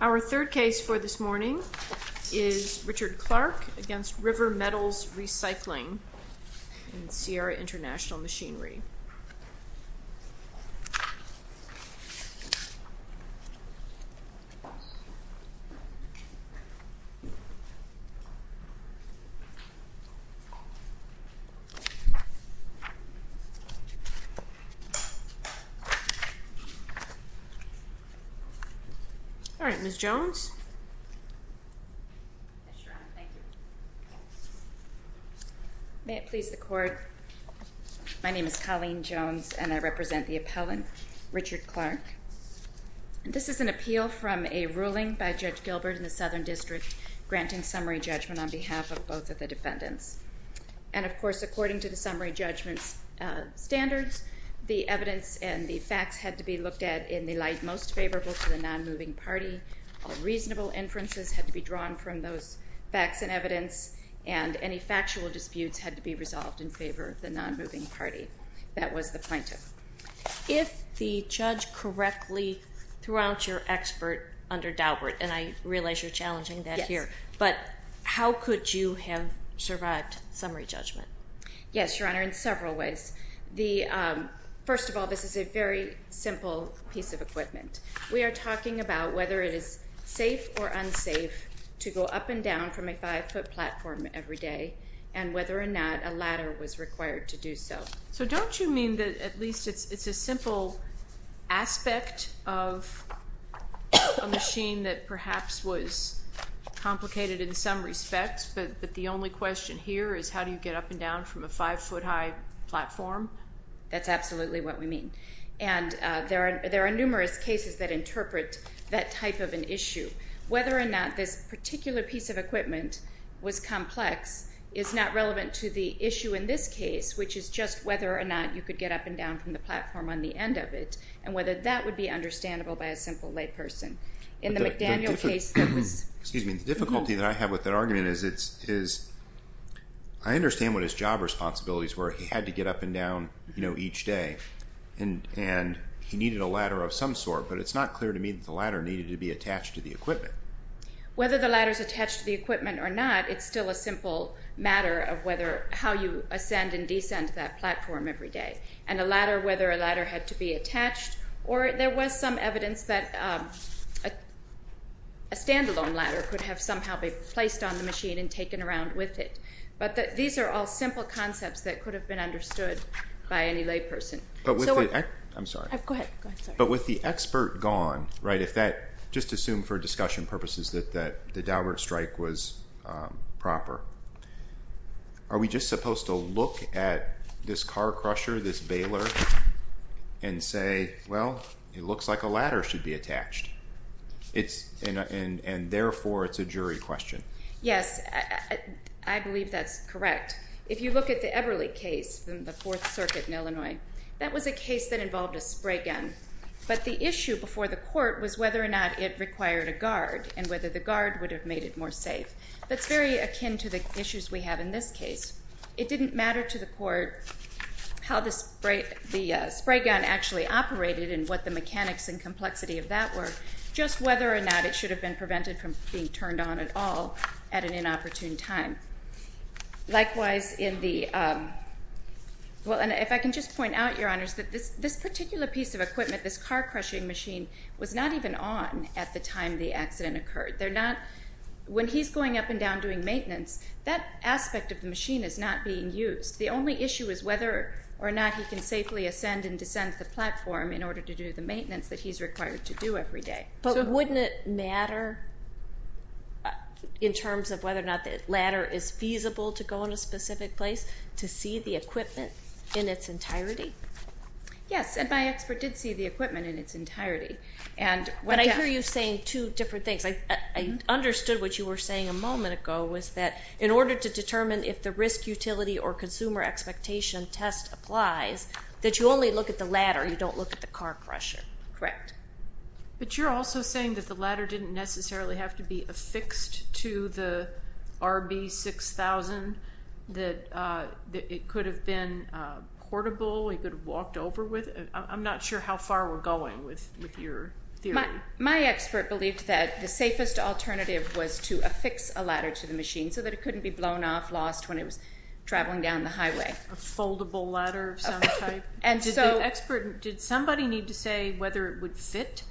Our third case for this morning is Richard Clark v. River Metals Recycling, Sierra International Machinery. This is an appeal from a ruling by Judge Gilbert in the Southern District granting summary judgment on behalf of both of the defendants. And of course, according to the summary judgment standards, the evidence and the facts had to be looked at in the light most favorable to the non-moving party, all reasonable inferences had to be drawn from those facts and evidence, and any factual disputes had to be resolved in favor of the non-moving party. That was the plaintiff. If the judge correctly threw out your expert under Daubert, and I realize you're challenging that here, but how could you have survived summary judgment? Yes, Your Honor, in several ways. First of all, this is a very simple piece of equipment. We are talking about whether it is safe or unsafe to go up and down from a five-foot platform every day, and whether or not a ladder was required to do so. So don't you mean that at least it's a simple aspect of a machine that perhaps was complicated in some respects, but the only question here is how do you get up and down from a five-foot high platform? That's absolutely what we mean. And there are numerous cases that interpret that type of an issue. Whether or not this particular piece of equipment was complex is not relevant to the issue in this case, which is just whether or not you could get up and down from the platform on the end of it, and whether that would be understandable by a simple layperson. In the McDaniel case, there was... Excuse me. The difficulty that I have with that argument is I understand what his job responsibilities were. He had to get up and down each day, and he needed a ladder of some sort, but it's not clear to me that the ladder needed to be attached to the equipment. Whether the ladder's attached to the equipment or not, it's still a simple matter of whether or not somehow you ascend and descend that platform every day, and a ladder, whether a ladder had to be attached, or there was some evidence that a stand-alone ladder could have somehow been placed on the machine and taken around with it. But these are all simple concepts that could have been understood by any layperson. But with the... I'm sorry. Go ahead. Go ahead. Sorry. But with the expert gone, right, if that... Let's just assume for discussion purposes that the Daubert strike was proper. Are we just supposed to look at this car crusher, this baler, and say, well, it looks like a ladder should be attached? And therefore, it's a jury question. Yes. I believe that's correct. If you look at the Eberle case in the Fourth Circuit in Illinois, that was a case that involved a spray gun. But the issue before the court was whether or not it required a guard and whether the guard would have made it more safe. That's very akin to the issues we have in this case. It didn't matter to the court how the spray gun actually operated and what the mechanics and complexity of that were, just whether or not it should have been prevented from being turned on at all at an inopportune time. Likewise in the... Well, and if I can just point out, Your Honors, that this particular piece of equipment, this car crushing machine, was not even on at the time the accident occurred. They're not... When he's going up and down doing maintenance, that aspect of the machine is not being used. The only issue is whether or not he can safely ascend and descend the platform in order to do the maintenance that he's required to do every day. But wouldn't it matter in terms of whether or not the ladder is feasible to go in a specific place to see the equipment in its entirety? Yes, and my expert did see the equipment in its entirety. And what... But I hear you saying two different things. I understood what you were saying a moment ago was that in order to determine if the risk utility or consumer expectation test applies, that you only look at the ladder, you don't look at the car crusher. Correct. But you're also saying that the ladder didn't necessarily have to be affixed to the RB6000, that it could have been portable, he could have walked over with it. I'm not sure how far we're going with your theory. My expert believed that the safest alternative was to affix a ladder to the machine so that it couldn't be blown off, lost when it was traveling down the highway. A foldable ladder of some type? And so... Did the expert... Did somebody need to say whether it would fit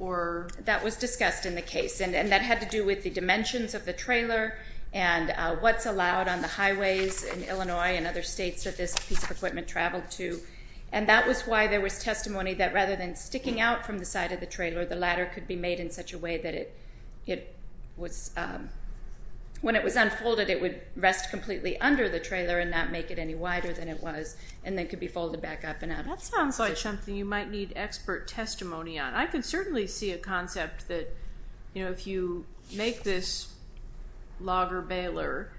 or... That was discussed in the case. And that had to do with the dimensions of the trailer and what's allowed on the highways in Illinois and other states that this piece of equipment traveled to. And that was why there was testimony that rather than sticking out from the side of the trailer, the ladder could be made in such a way that it was... When it was unfolded, it would rest completely under the trailer and not make it any wider than it was, and then could be folded back up and out. That sounds like something you might need expert testimony on. I can certainly see a concept that if you make this logger-bailer,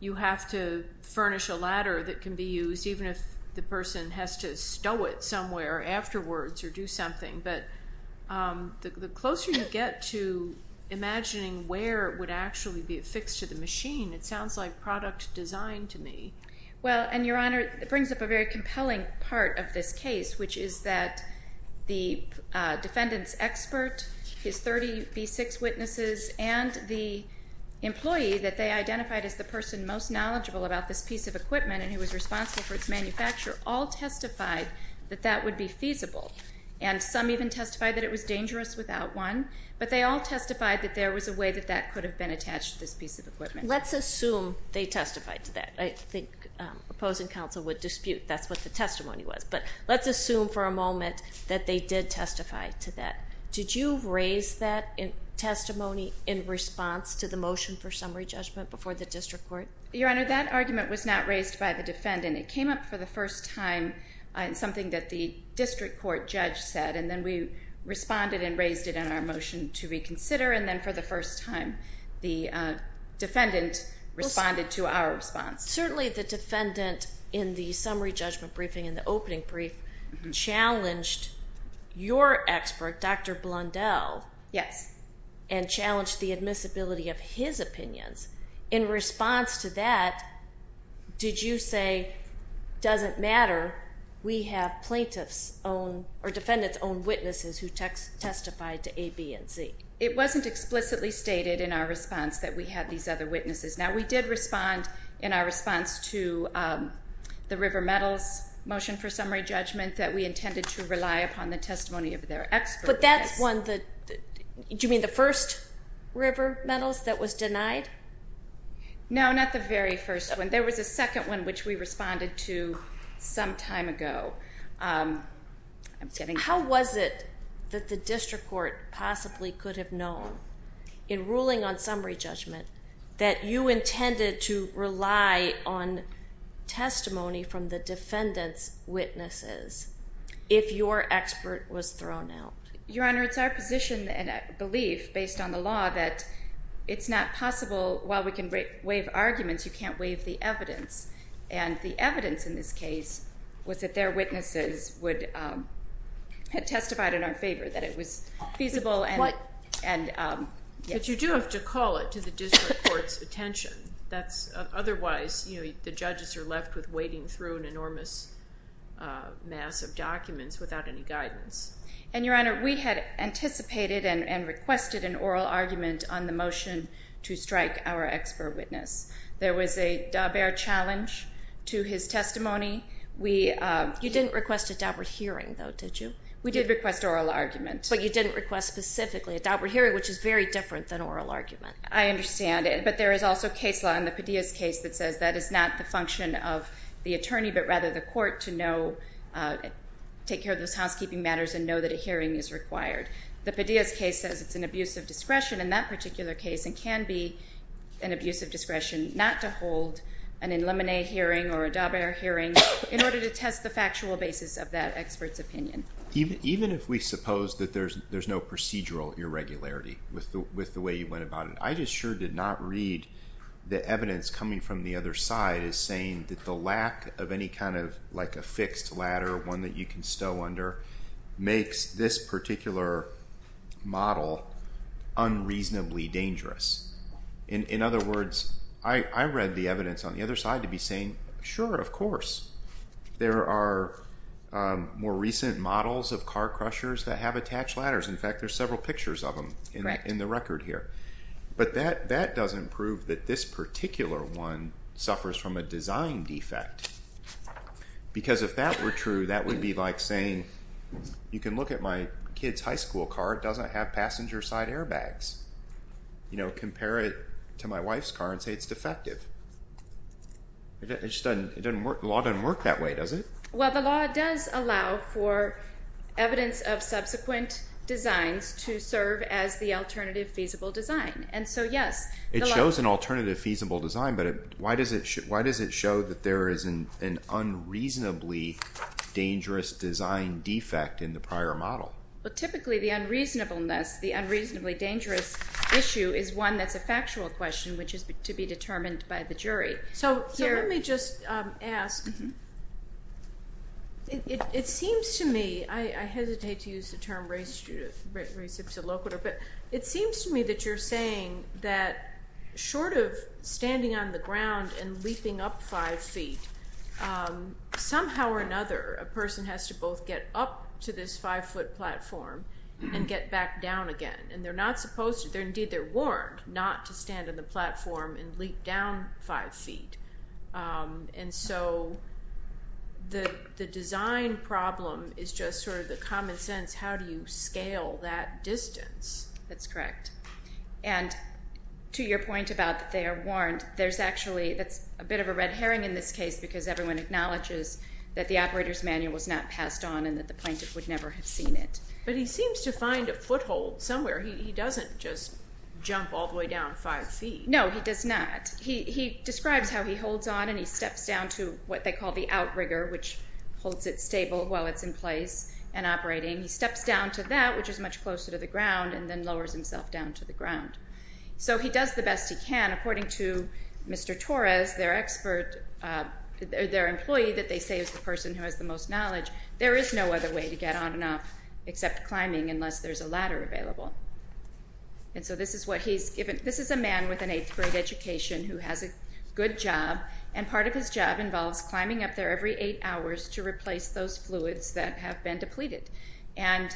you have to furnish a ladder that can be used even if the person has to stow it somewhere afterwards or do something. But the closer you get to imagining where it would actually be affixed to the machine, it sounds like product design to me. Well, and Your Honor, it brings up a very compelling part of this case, which is that the defendant's expert, his 30B6 witnesses, and the employee that they identified as the person most knowledgeable about this piece of equipment and who was responsible for its manufacture all testified that that would be feasible. And some even testified that it was dangerous without one. But they all testified that there was a way that that could have been attached to this piece of equipment. Let's assume they testified to that. I think opposing counsel would dispute that's what the testimony was. But let's assume for a moment that they did testify to that. Did you raise that testimony in response to the motion for summary judgment before the district court? Your Honor, that argument was not raised by the defendant. It came up for the first time in something that the district court judge said. And then we responded and raised it in our motion to reconsider. And then for the first time, the defendant responded to our response. Certainly the defendant in the summary judgment briefing and the opening brief challenged your expert, Dr. Blundell, and challenged the admissibility of his opinions. In response to that, did you say, doesn't matter, we have plaintiff's own or defendant's own witnesses who testified to A, B, and C? It wasn't explicitly stated in our response that we had these other witnesses. Now, we did respond in our response to the River Meadows motion for summary judgment that we intended to rely upon the testimony of their experts. But that's one that, do you mean the first River Meadows that was denied? No, not the very first one. There was a second one which we responded to some time ago. How was it that the district court possibly could have known in ruling on summary judgment that you intended to rely on testimony from the defendant's witnesses if your expert was thrown out? Your Honor, it's our position and belief, based on the law, that it's not possible while we can waive arguments, you can't waive the evidence. And the evidence in this case was that their witnesses would have testified in our favor that it was feasible and, and, um, yes. But you do have to call it to the district court's attention. That's otherwise, you know, the judges are left with wading through an enormous mass of documents without any guidance. And Your Honor, we had anticipated and requested an oral argument on the motion to strike our expert witness. There was a Daubert challenge to his testimony. We, um. You didn't request a Daubert hearing though, did you? We did request oral argument. But you didn't request specifically a Daubert hearing, which is very different than oral argument. I understand. But there is also case law in the Padilla's case that says that is not the function of the attorney, but rather the court to know, uh, take care of those housekeeping matters and know that a hearing is required. The Padilla's case says it's an abuse of discretion in that particular case and can be an abuse of discretion not to hold an in limine hearing or a Daubert hearing in order to test the factual basis of that expert's opinion. Even if we suppose that there's no procedural irregularity with the way you went about it, I just sure did not read the evidence coming from the other side as saying that the lack of any kind of like a fixed ladder, one that you can stow under, makes this particular model unreasonably dangerous. In other words, I read the evidence on the other side to be saying, sure, of course. There are, um, more recent models of car crushers that have attached ladders. In fact, there's several pictures of them in the record here. But that, that doesn't prove that this particular one suffers from a design defect. Because if that were true, that would be like saying, you can look at my kid's high school car. It doesn't have passenger side airbags. You know, compare it to my wife's car and say it's defective. It just doesn't, it doesn't work, the law doesn't work that way, does it? Well, the law does allow for evidence of subsequent designs to serve as the alternative feasible design. And so, yes, the law... It shows an alternative feasible design, but why does it show that there is an unreasonably dangerous design defect in the prior model? Well, typically the unreasonableness, the unreasonably dangerous issue is one that's a factual question, which is to be determined by the jury. So let me just ask, it seems to me, I hesitate to use the term reciprocal, but it seems to me that you're saying that short of standing on the ground and leaping up five feet, somehow or another, a person has to both get up to this five foot platform and get back down again. And they're not supposed to... And so the design problem is just sort of the common sense, how do you scale that distance? That's correct. And to your point about that they are warned, there's actually, that's a bit of a red herring in this case, because everyone acknowledges that the operator's manual was not passed on and that the plaintiff would never have seen it. But he seems to find a foothold somewhere, he doesn't just jump all the way down five feet. No, he does not. He describes how he holds on and he steps down to what they call the outrigger, which holds it stable while it's in place and operating. He steps down to that, which is much closer to the ground, and then lowers himself down to the ground. So he does the best he can. According to Mr. Torres, their expert, their employee that they say is the person who has the most knowledge, there is no other way to get on and off except climbing, unless there's a ladder available. And so this is what he's given, this is a man with an eighth grade education who has a good job, and part of his job involves climbing up there every eight hours to replace those fluids that have been depleted. And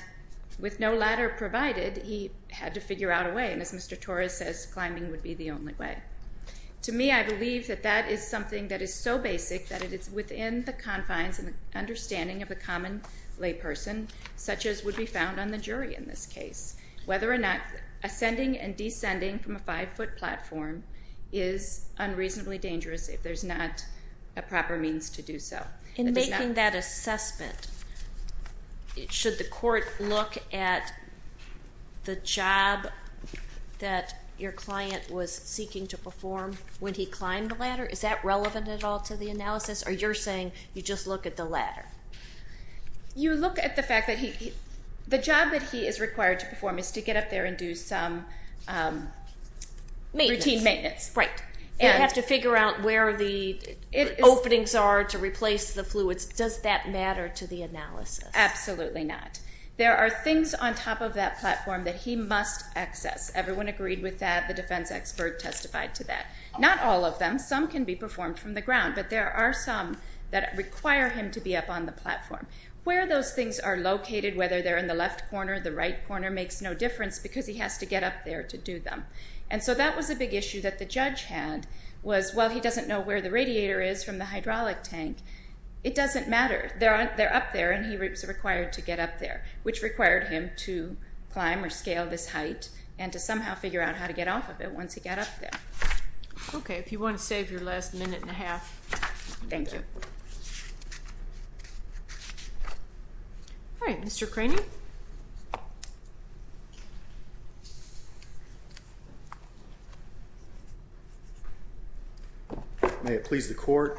with no ladder provided, he had to figure out a way, and as Mr. Torres says, climbing would be the only way. To me, I believe that that is something that is so basic that it is within the confines and understanding of the common layperson, such as would be found on the jury in this case, whether or not ascending and descending from a five-foot platform is unreasonably dangerous if there's not a proper means to do so. In making that assessment, should the court look at the job that your client was seeking to perform when he climbed the ladder? Is that relevant at all to the analysis, or you're saying you just look at the ladder? You look at the fact that he, the job that he is required to perform is to get up there and do some routine maintenance. Right. You have to figure out where the openings are to replace the fluids. Does that matter to the analysis? Absolutely not. There are things on top of that platform that he must access. Everyone agreed with that, the defense expert testified to that. Not all of them, some can be performed from the ground, but there are some that require him to be up on the platform. Where those things are located, whether they're in the left corner, the right corner, makes no difference because he has to get up there to do them. That was a big issue that the judge had, was, well, he doesn't know where the radiator is from the hydraulic tank. It doesn't matter. They're up there, and he was required to get up there, which required him to climb or scale this height and to somehow figure out how to get off of it once he got up there. Okay. If you want to save your last minute and a half, you can do that. Thank you. All right. Mr. Craney? May it please the court.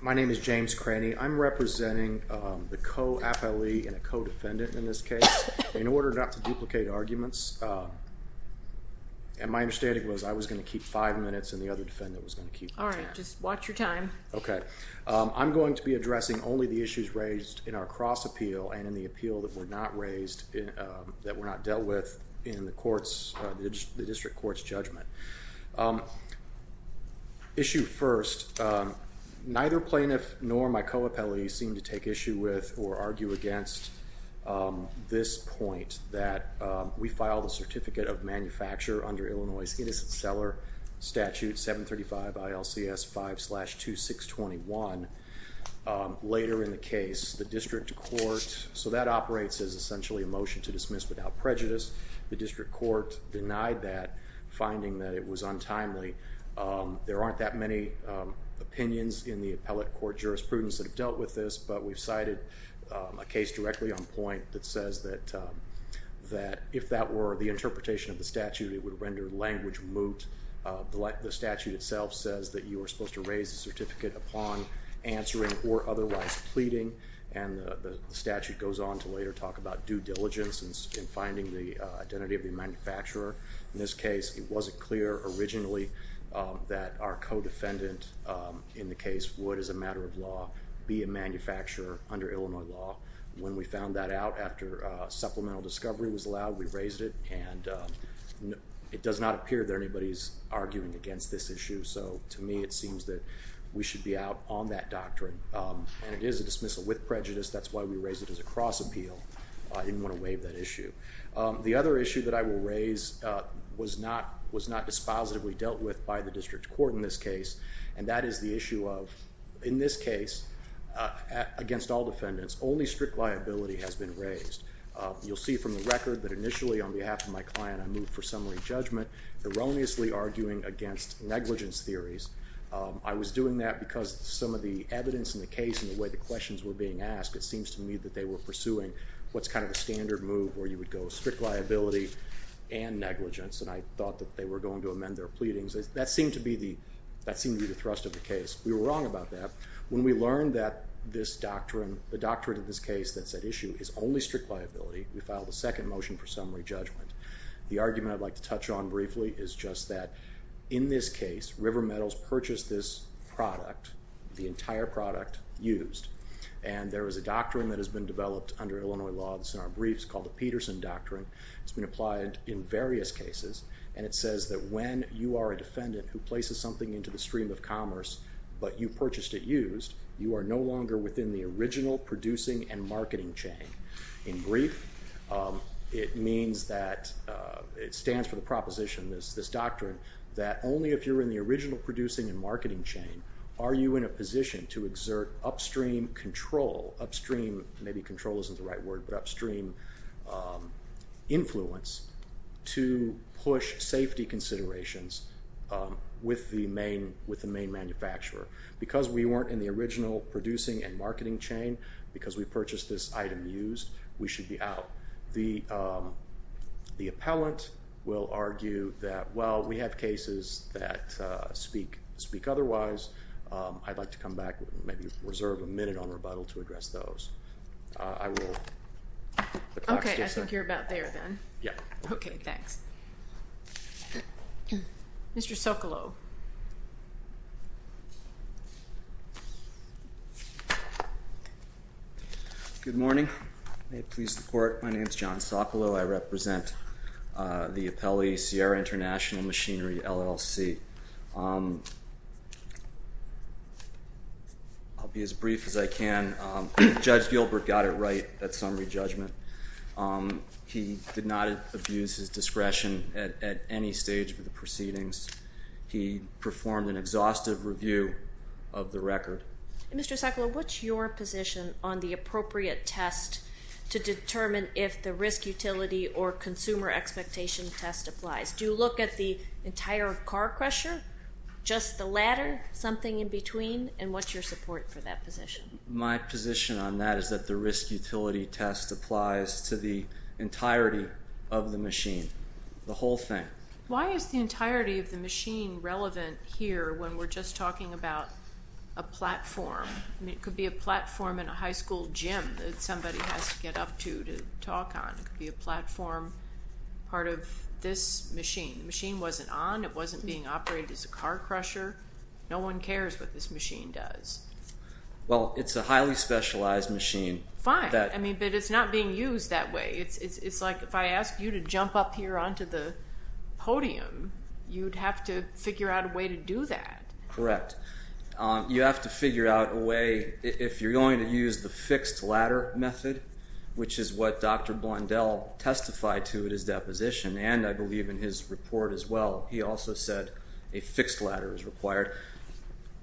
My name is James Craney. I'm representing the co-appellee and a co-defendant in this case. In order not to duplicate arguments, and my understanding was I was going to keep five minutes, and the other defendant was going to keep 10. All right. Just watch your time. Okay. I'm going to be addressing only the issues raised in our cross-appeal and in the appeal that were not raised, that were not dealt with in the district court's judgment. Issue first, neither plaintiff nor my co-appellee seem to take issue with or argue against this point that we filed a Certificate of Manufacture under Illinois' Innocent Seller Statute 735 ILCS 5-2621 later in the case. The district court, so that operates as essentially a motion to dismiss without prejudice. The district court denied that, finding that it was untimely. There aren't that many opinions in the appellate court jurisprudence that have dealt with this, but we've cited a case directly on point that says that if that were the interpretation of the statute, it would render language moot. The statute itself says that you are supposed to raise the certificate upon answering or otherwise pleading, and the statute goes on to later talk about due diligence in finding the identity of the manufacturer. In this case, it wasn't clear originally that our co-defendant in the case would, as a matter of law, be a manufacturer under Illinois law. When we found that out after supplemental discovery was allowed, we raised it, and it does not appear that anybody's arguing against this issue. So to me, it seems that we should be out on that doctrine, and it is a dismissal with prejudice. That's why we raised it as a cross-appeal. I didn't want to waive that issue. The other issue that I will raise was not dispositively dealt with by the district court in this case, and that is the issue of, in this case, against all defendants, only strict liability has been raised. You'll see from the record that initially on behalf of my client, I moved for summary judgment, erroneously arguing against negligence theories. I was doing that because some of the evidence in the case and the way the questions were being asked, it seems to me that they were pursuing what's kind of a standard move where you would go strict liability and negligence, and I thought that they were going to amend their pleadings. That seemed to be the thrust of the case. We were wrong about that. When we learned that this doctrine, the doctrine of this case that's at issue is only strict liability, we filed a second motion for summary judgment. The argument I'd like to touch on briefly is just that in this case, River Metals purchased this product, the entire product, used, and there is a doctrine that has been developed under Illinois law that's in our briefs called the Peterson Doctrine. It's been applied in various cases, and it says that when you are a defendant who places something into the stream of commerce, but you purchased it used, you are no longer within the original producing and marketing chain. In brief, it means that, it stands for the proposition, this doctrine, that only if you're in the original producing and marketing chain are you in a position to exert upstream control, upstream, maybe control isn't the right word, but upstream influence to push safety considerations with the main manufacturer. Because we weren't in the original producing and marketing chain, because we purchased this item used, we should be out. The appellant will argue that, well, we have cases that speak otherwise. I'd like to come back, maybe reserve a minute on rebuttal to address those. I will... Okay, I think you're about there, then. Yeah. Okay, thanks. Mr. Socolow. Good morning. May it please the Court, my name is John Socolow, I represent the Appellee Sierra International Machinery LLC. I'll be as brief as I can. Judge Gilbert got it right at summary judgment. He did not abuse his discretion at any stage of the proceedings. He performed an exhaustive review of the record. Mr. Socolow, what's your position on the appropriate test to determine if the risk utility or consumer expectation test applies? Do you look at the entire car crusher, just the ladder, something in between, and what's your support for that position? My position on that is that the risk utility test applies to the entirety of the machine, the whole thing. Why is the entirety of the machine relevant here when we're just talking about a platform? It could be a platform in a high school gym that somebody has to get up to, to talk on. It could be a platform, part of this machine. The machine wasn't on, it wasn't being operated as a car crusher, no one cares what this machine does. Well, it's a highly specialized machine. Fine. I mean, but it's not being used that way. It's like if I asked you to jump up here onto the podium, you'd have to figure out a way to do that. Correct. You have to figure out a way, if you're going to use the fixed ladder method, which is what Dr. Blondel testified to at his deposition, and I believe in his report as well, he also said a fixed ladder is required.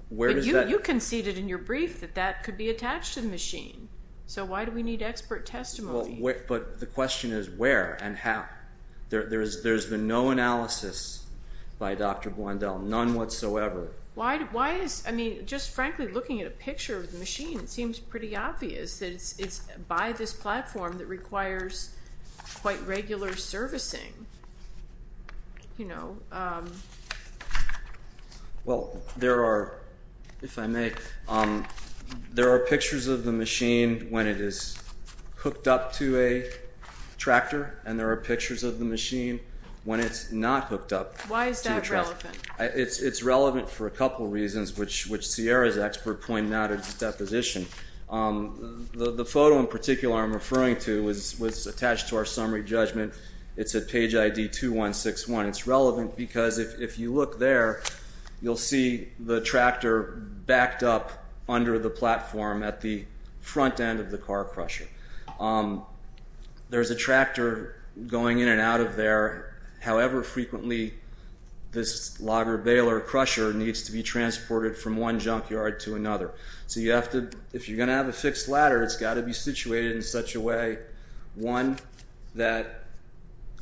Where does that- But you conceded in your brief that that could be attached to the machine. So why do we need expert testimony? But the question is where and how. There's been no analysis by Dr. Blondel, none whatsoever. Why is, I mean, just frankly looking at a picture of the machine, it seems pretty obvious that it's by this platform that requires quite regular servicing, you know. Well, there are, if I may, there are pictures of the machine when it is hooked up to a tractor, and there are pictures of the machine when it's not hooked up to a tractor. Why is that relevant? It's relevant for a couple reasons, which Sierra's expert pointed out at his deposition. The photo in particular I'm referring to was attached to our summary judgment. It's at page ID 2161. It's relevant because if you look there, you'll see the tractor backed up under the platform at the front end of the car crusher. There's a tractor going in and out of there. However frequently, this logger baler crusher needs to be transported from one junkyard to another. So you have to, if you're going to have a fixed ladder, it's got to be situated in such a way, one, that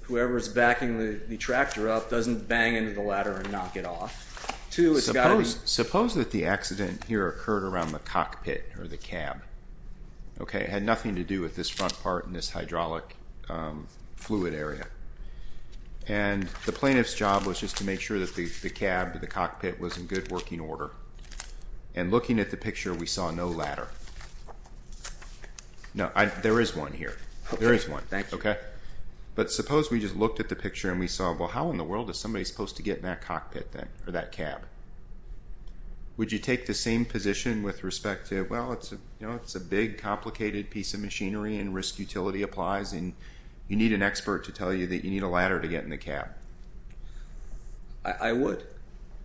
whoever's backing the tractor up doesn't bang into the ladder and knock it off. Two, it's got to be. Suppose that the accident here occurred around the cockpit or the cab. Okay, it had nothing to do with this front part and this hydraulic fluid area. And the plaintiff's job was just to make sure that the cab or the cockpit was in good working order. And looking at the picture, we saw no ladder. No, there is one here. There is one. Thank you. Okay. But suppose we just looked at the picture and we saw, well, how in the world is somebody supposed to get in that cockpit then, or that cab? Would you take the same position with respect to, well, it's a big, complicated piece of machinery and risk utility applies, and you need an expert to tell you that you need a ladder to get in the cab? I would.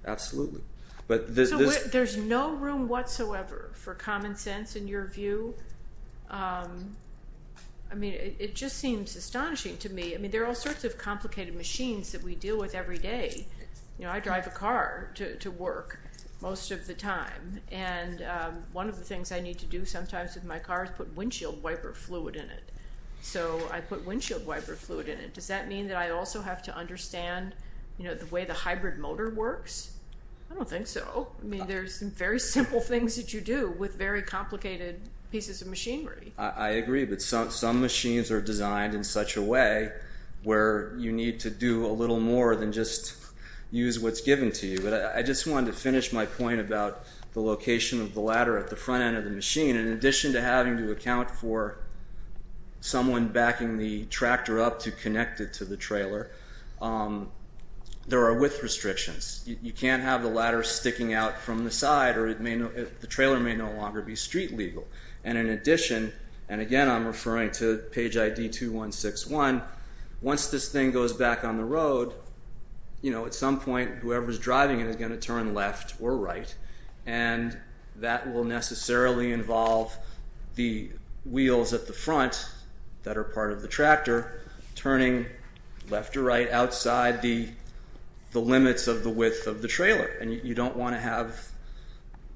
Absolutely. So there's no room whatsoever for common sense in your view? I mean, it just seems astonishing to me. I mean, there are all sorts of complicated machines that we deal with every day. You know, I drive a car to work most of the time, and one of the things I need to do sometimes with my car is put windshield wiper fluid in it. So I put windshield wiper fluid in it. Does that mean that I also have to understand, you know, the way the hybrid motor works? I don't think so. I mean, there's some very simple things that you do with very complicated pieces of machinery. I agree, but some machines are designed in such a way where you need to do a little more than just use what's given to you, but I just wanted to finish my point about the location of the ladder at the front end of the machine. In addition to having to account for someone backing the tractor up to connect it to the trailer, there are width restrictions. You can't have the ladder sticking out from the side, or the trailer may no longer be street legal. And in addition, and again, I'm referring to page ID 2161. Once this thing goes back on the road, you know, at some point, whoever's driving it is going to turn left or right, and that will necessarily involve the wheels at the front that are part of the tractor turning left or right outside the limits of the width of the trailer. And you don't want to have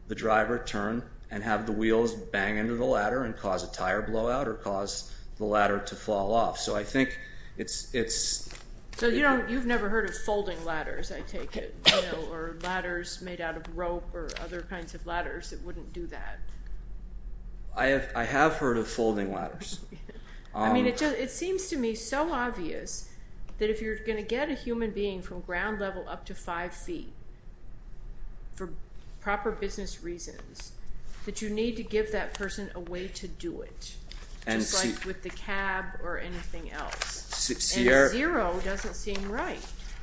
the driver turn and have the wheels bang into the ladder and cause a tire blowout or cause the ladder to fall off. So I think it's... So you've never heard of folding ladders, I take it, or ladders made out of rope or other kinds of ladders that wouldn't do that. I have heard of folding ladders. I mean, it seems to me so obvious that if you're going to get a human being from ground level up to five feet for proper business reasons, that you need to give that person a way to do it. Just like with the cab or anything else, and zero doesn't seem right.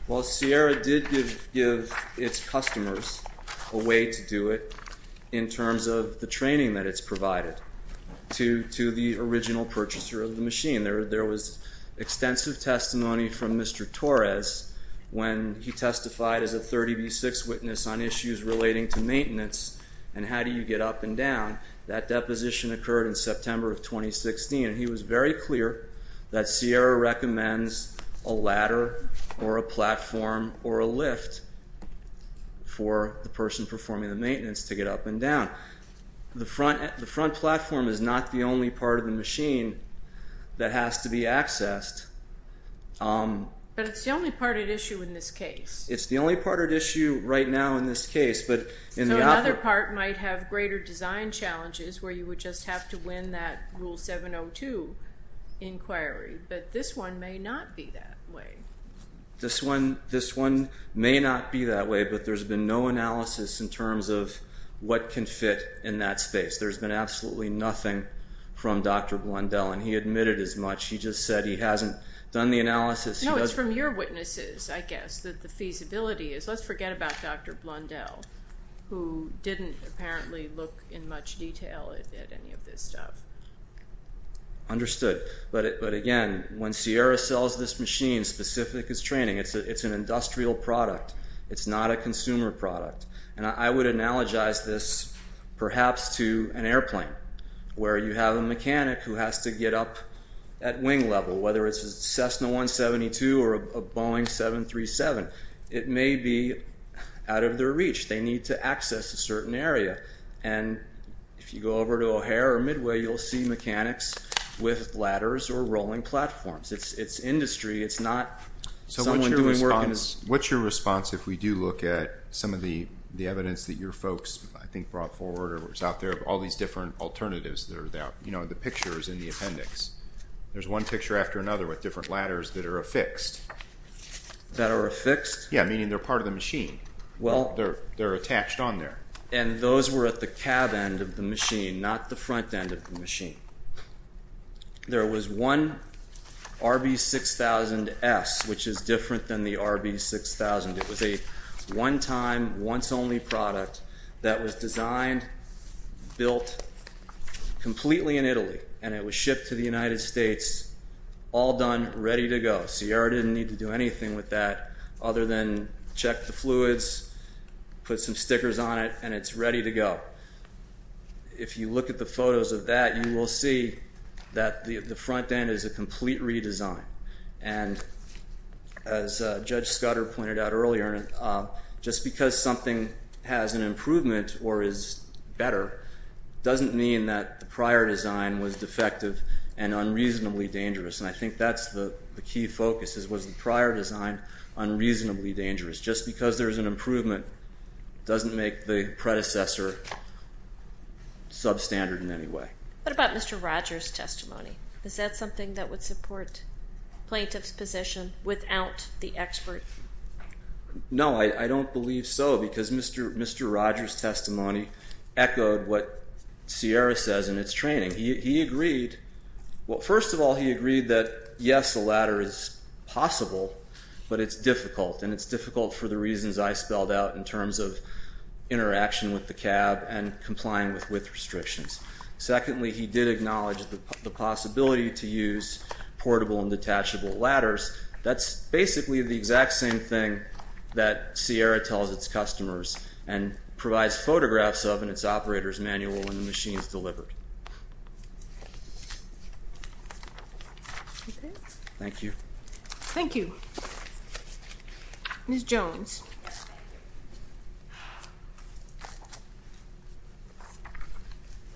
Well, Sierra did give its customers a way to do it in terms of the training that it's provided to the original purchaser of the machine. There was extensive testimony from Mr. Torres when he testified as a 30B6 witness on issues relating to maintenance and how do you get up and down. That deposition occurred in September of 2016, and he was very clear that Sierra recommends a ladder or a platform or a lift for the person performing the maintenance to get up and down. The front platform is not the only part of the machine that has to be accessed. But it's the only part at issue in this case. It's the only part at issue right now in this case. So another part might have greater design challenges where you would just have to win that Rule 702 inquiry, but this one may not be that way. This one may not be that way, but there's been no analysis in terms of what can fit in that space. There's been absolutely nothing from Dr. Blundell, and he admitted as much. He just said he hasn't done the analysis. No, it's from your witnesses, I guess, that the feasibility is. Let's forget about Dr. Blundell who didn't apparently look in much detail at any of this stuff. Understood. But again, when Sierra sells this machine specific as training, it's an industrial product. It's not a consumer product. And I would analogize this perhaps to an airplane where you have a mechanic who has to get up at wing level, whether it's a Cessna 172 or a Boeing 737. It may be out of their reach. They need to access a certain area. And if you go over to O'Hare or Midway, you'll see mechanics with ladders or rolling platforms. It's industry. It's not someone doing work in a... What's your response if we do look at some of the evidence that your folks, I think, brought forward or was out there of all these different alternatives that are out, you know, the pictures in the appendix? There's one picture after another with different ladders that are affixed. That are affixed? Yeah, meaning they're part of the machine. Well... They're attached on there. And those were at the cab end of the machine, not the front end of the machine. There was one RB6000S, which is different than the RB6000. It was a one-time, once-only product that was designed, built completely in Italy. And it was shipped to the United States, all done, ready to go. Sierra didn't need to do anything with that other than check the fluids, put some stickers on it, and it's ready to go. If you look at the photos of that, you will see that the front end is a complete redesign. And as Judge Scudder pointed out earlier, just because something has an improvement or is better doesn't mean that the prior design was defective and unreasonably dangerous. And I think that's the key focus, was the prior design unreasonably dangerous? Just because there's an improvement doesn't make the predecessor substandard in any way. What about Mr. Rogers' testimony? Is that something that would support plaintiff's position without the expert? No, I don't believe so, because Mr. Rogers' testimony echoed what Sierra says in its training. He agreed... Well, first of all, he agreed that, yes, a ladder is possible, but it's difficult. And it's difficult for the reasons I spelled out in terms of interaction with the cab and complying with width restrictions. Secondly, he did acknowledge the possibility to use portable and detachable ladders. That's basically the exact same thing that Sierra tells its customers and Okay? Thank you. Thank you. Ms. Jones.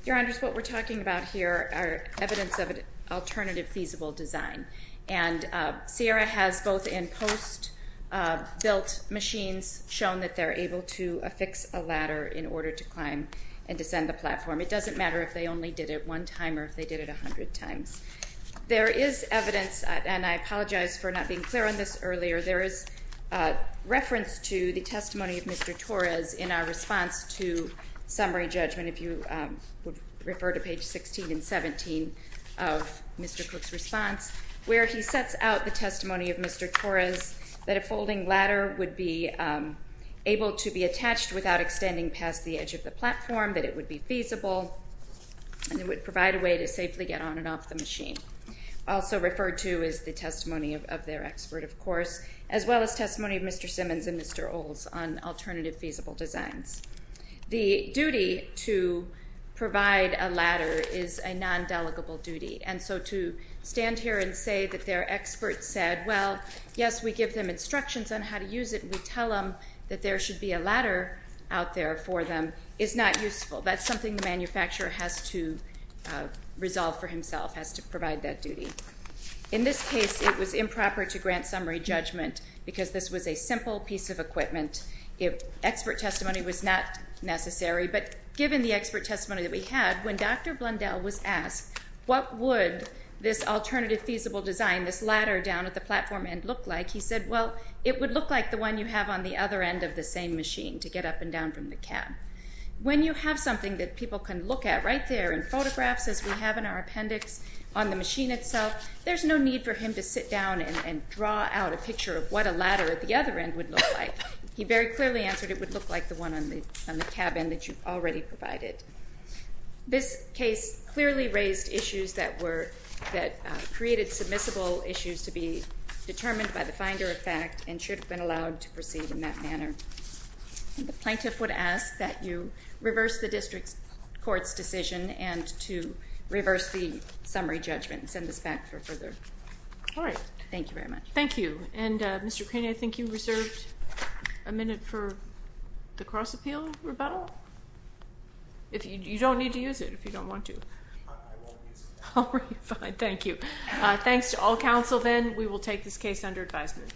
Your Honours, what we're talking about here are evidence of an alternative feasible design, and Sierra has both in post built machines shown that they're able to affix a ladder in order to climb and descend the platform. It doesn't matter if they only did it one time or if they did it 100 times. There is evidence, and I apologize for not being clear on this earlier, there is reference to the testimony of Mr. Torres in our response to summary judgment, if you would refer to page 16 and 17 of Mr. Cook's response, where he sets out the testimony of Mr. Torres that a folding ladder would be able to be attached without extending past the edge of the platform, that it would be feasible, and it would provide a way to safely get on and off the machine. Also referred to is the testimony of their expert, of course, as well as testimony of Mr. Simmons and Mr. Olds on alternative feasible designs. The duty to provide a ladder is a non-delegable duty, and so to stand here and say that their expert said, well, yes, we give them instructions on how to use it and we tell them that there should be a ladder out there for them is not useful. That's something the manufacturer has to resolve for himself, has to provide that duty. In this case, it was improper to grant summary judgment because this was a simple piece of equipment. Expert testimony was not necessary, but given the expert testimony that we had, when Dr. Blundell was asked what would this alternative feasible design, this ladder down at the platform end, look like, he said, well, it would look like the one you have on the other end of the same machine to get up and down from the cab. When you have something that people can look at right there in photographs as we have in our appendix on the machine itself, there's no need for him to sit down and draw out a picture of what a ladder at the other end would look like. He very clearly answered it would look like the one on the cab end that you've already provided. This case clearly raised issues that created submissible issues to be determined by the finder of fact and should have been allowed to proceed in that manner. The plaintiff would ask that you reverse the district court's decision and to reverse the summary judgment and send this back for further. All right. Thank you very much. Thank you. And Mr. Craney, I think you reserved a minute for the cross-appeal rebuttal? You don't need to use it if you don't want to. I won't use it. All right. Fine. Thank you. Thanks to all counsel then. We will take this case under advisement.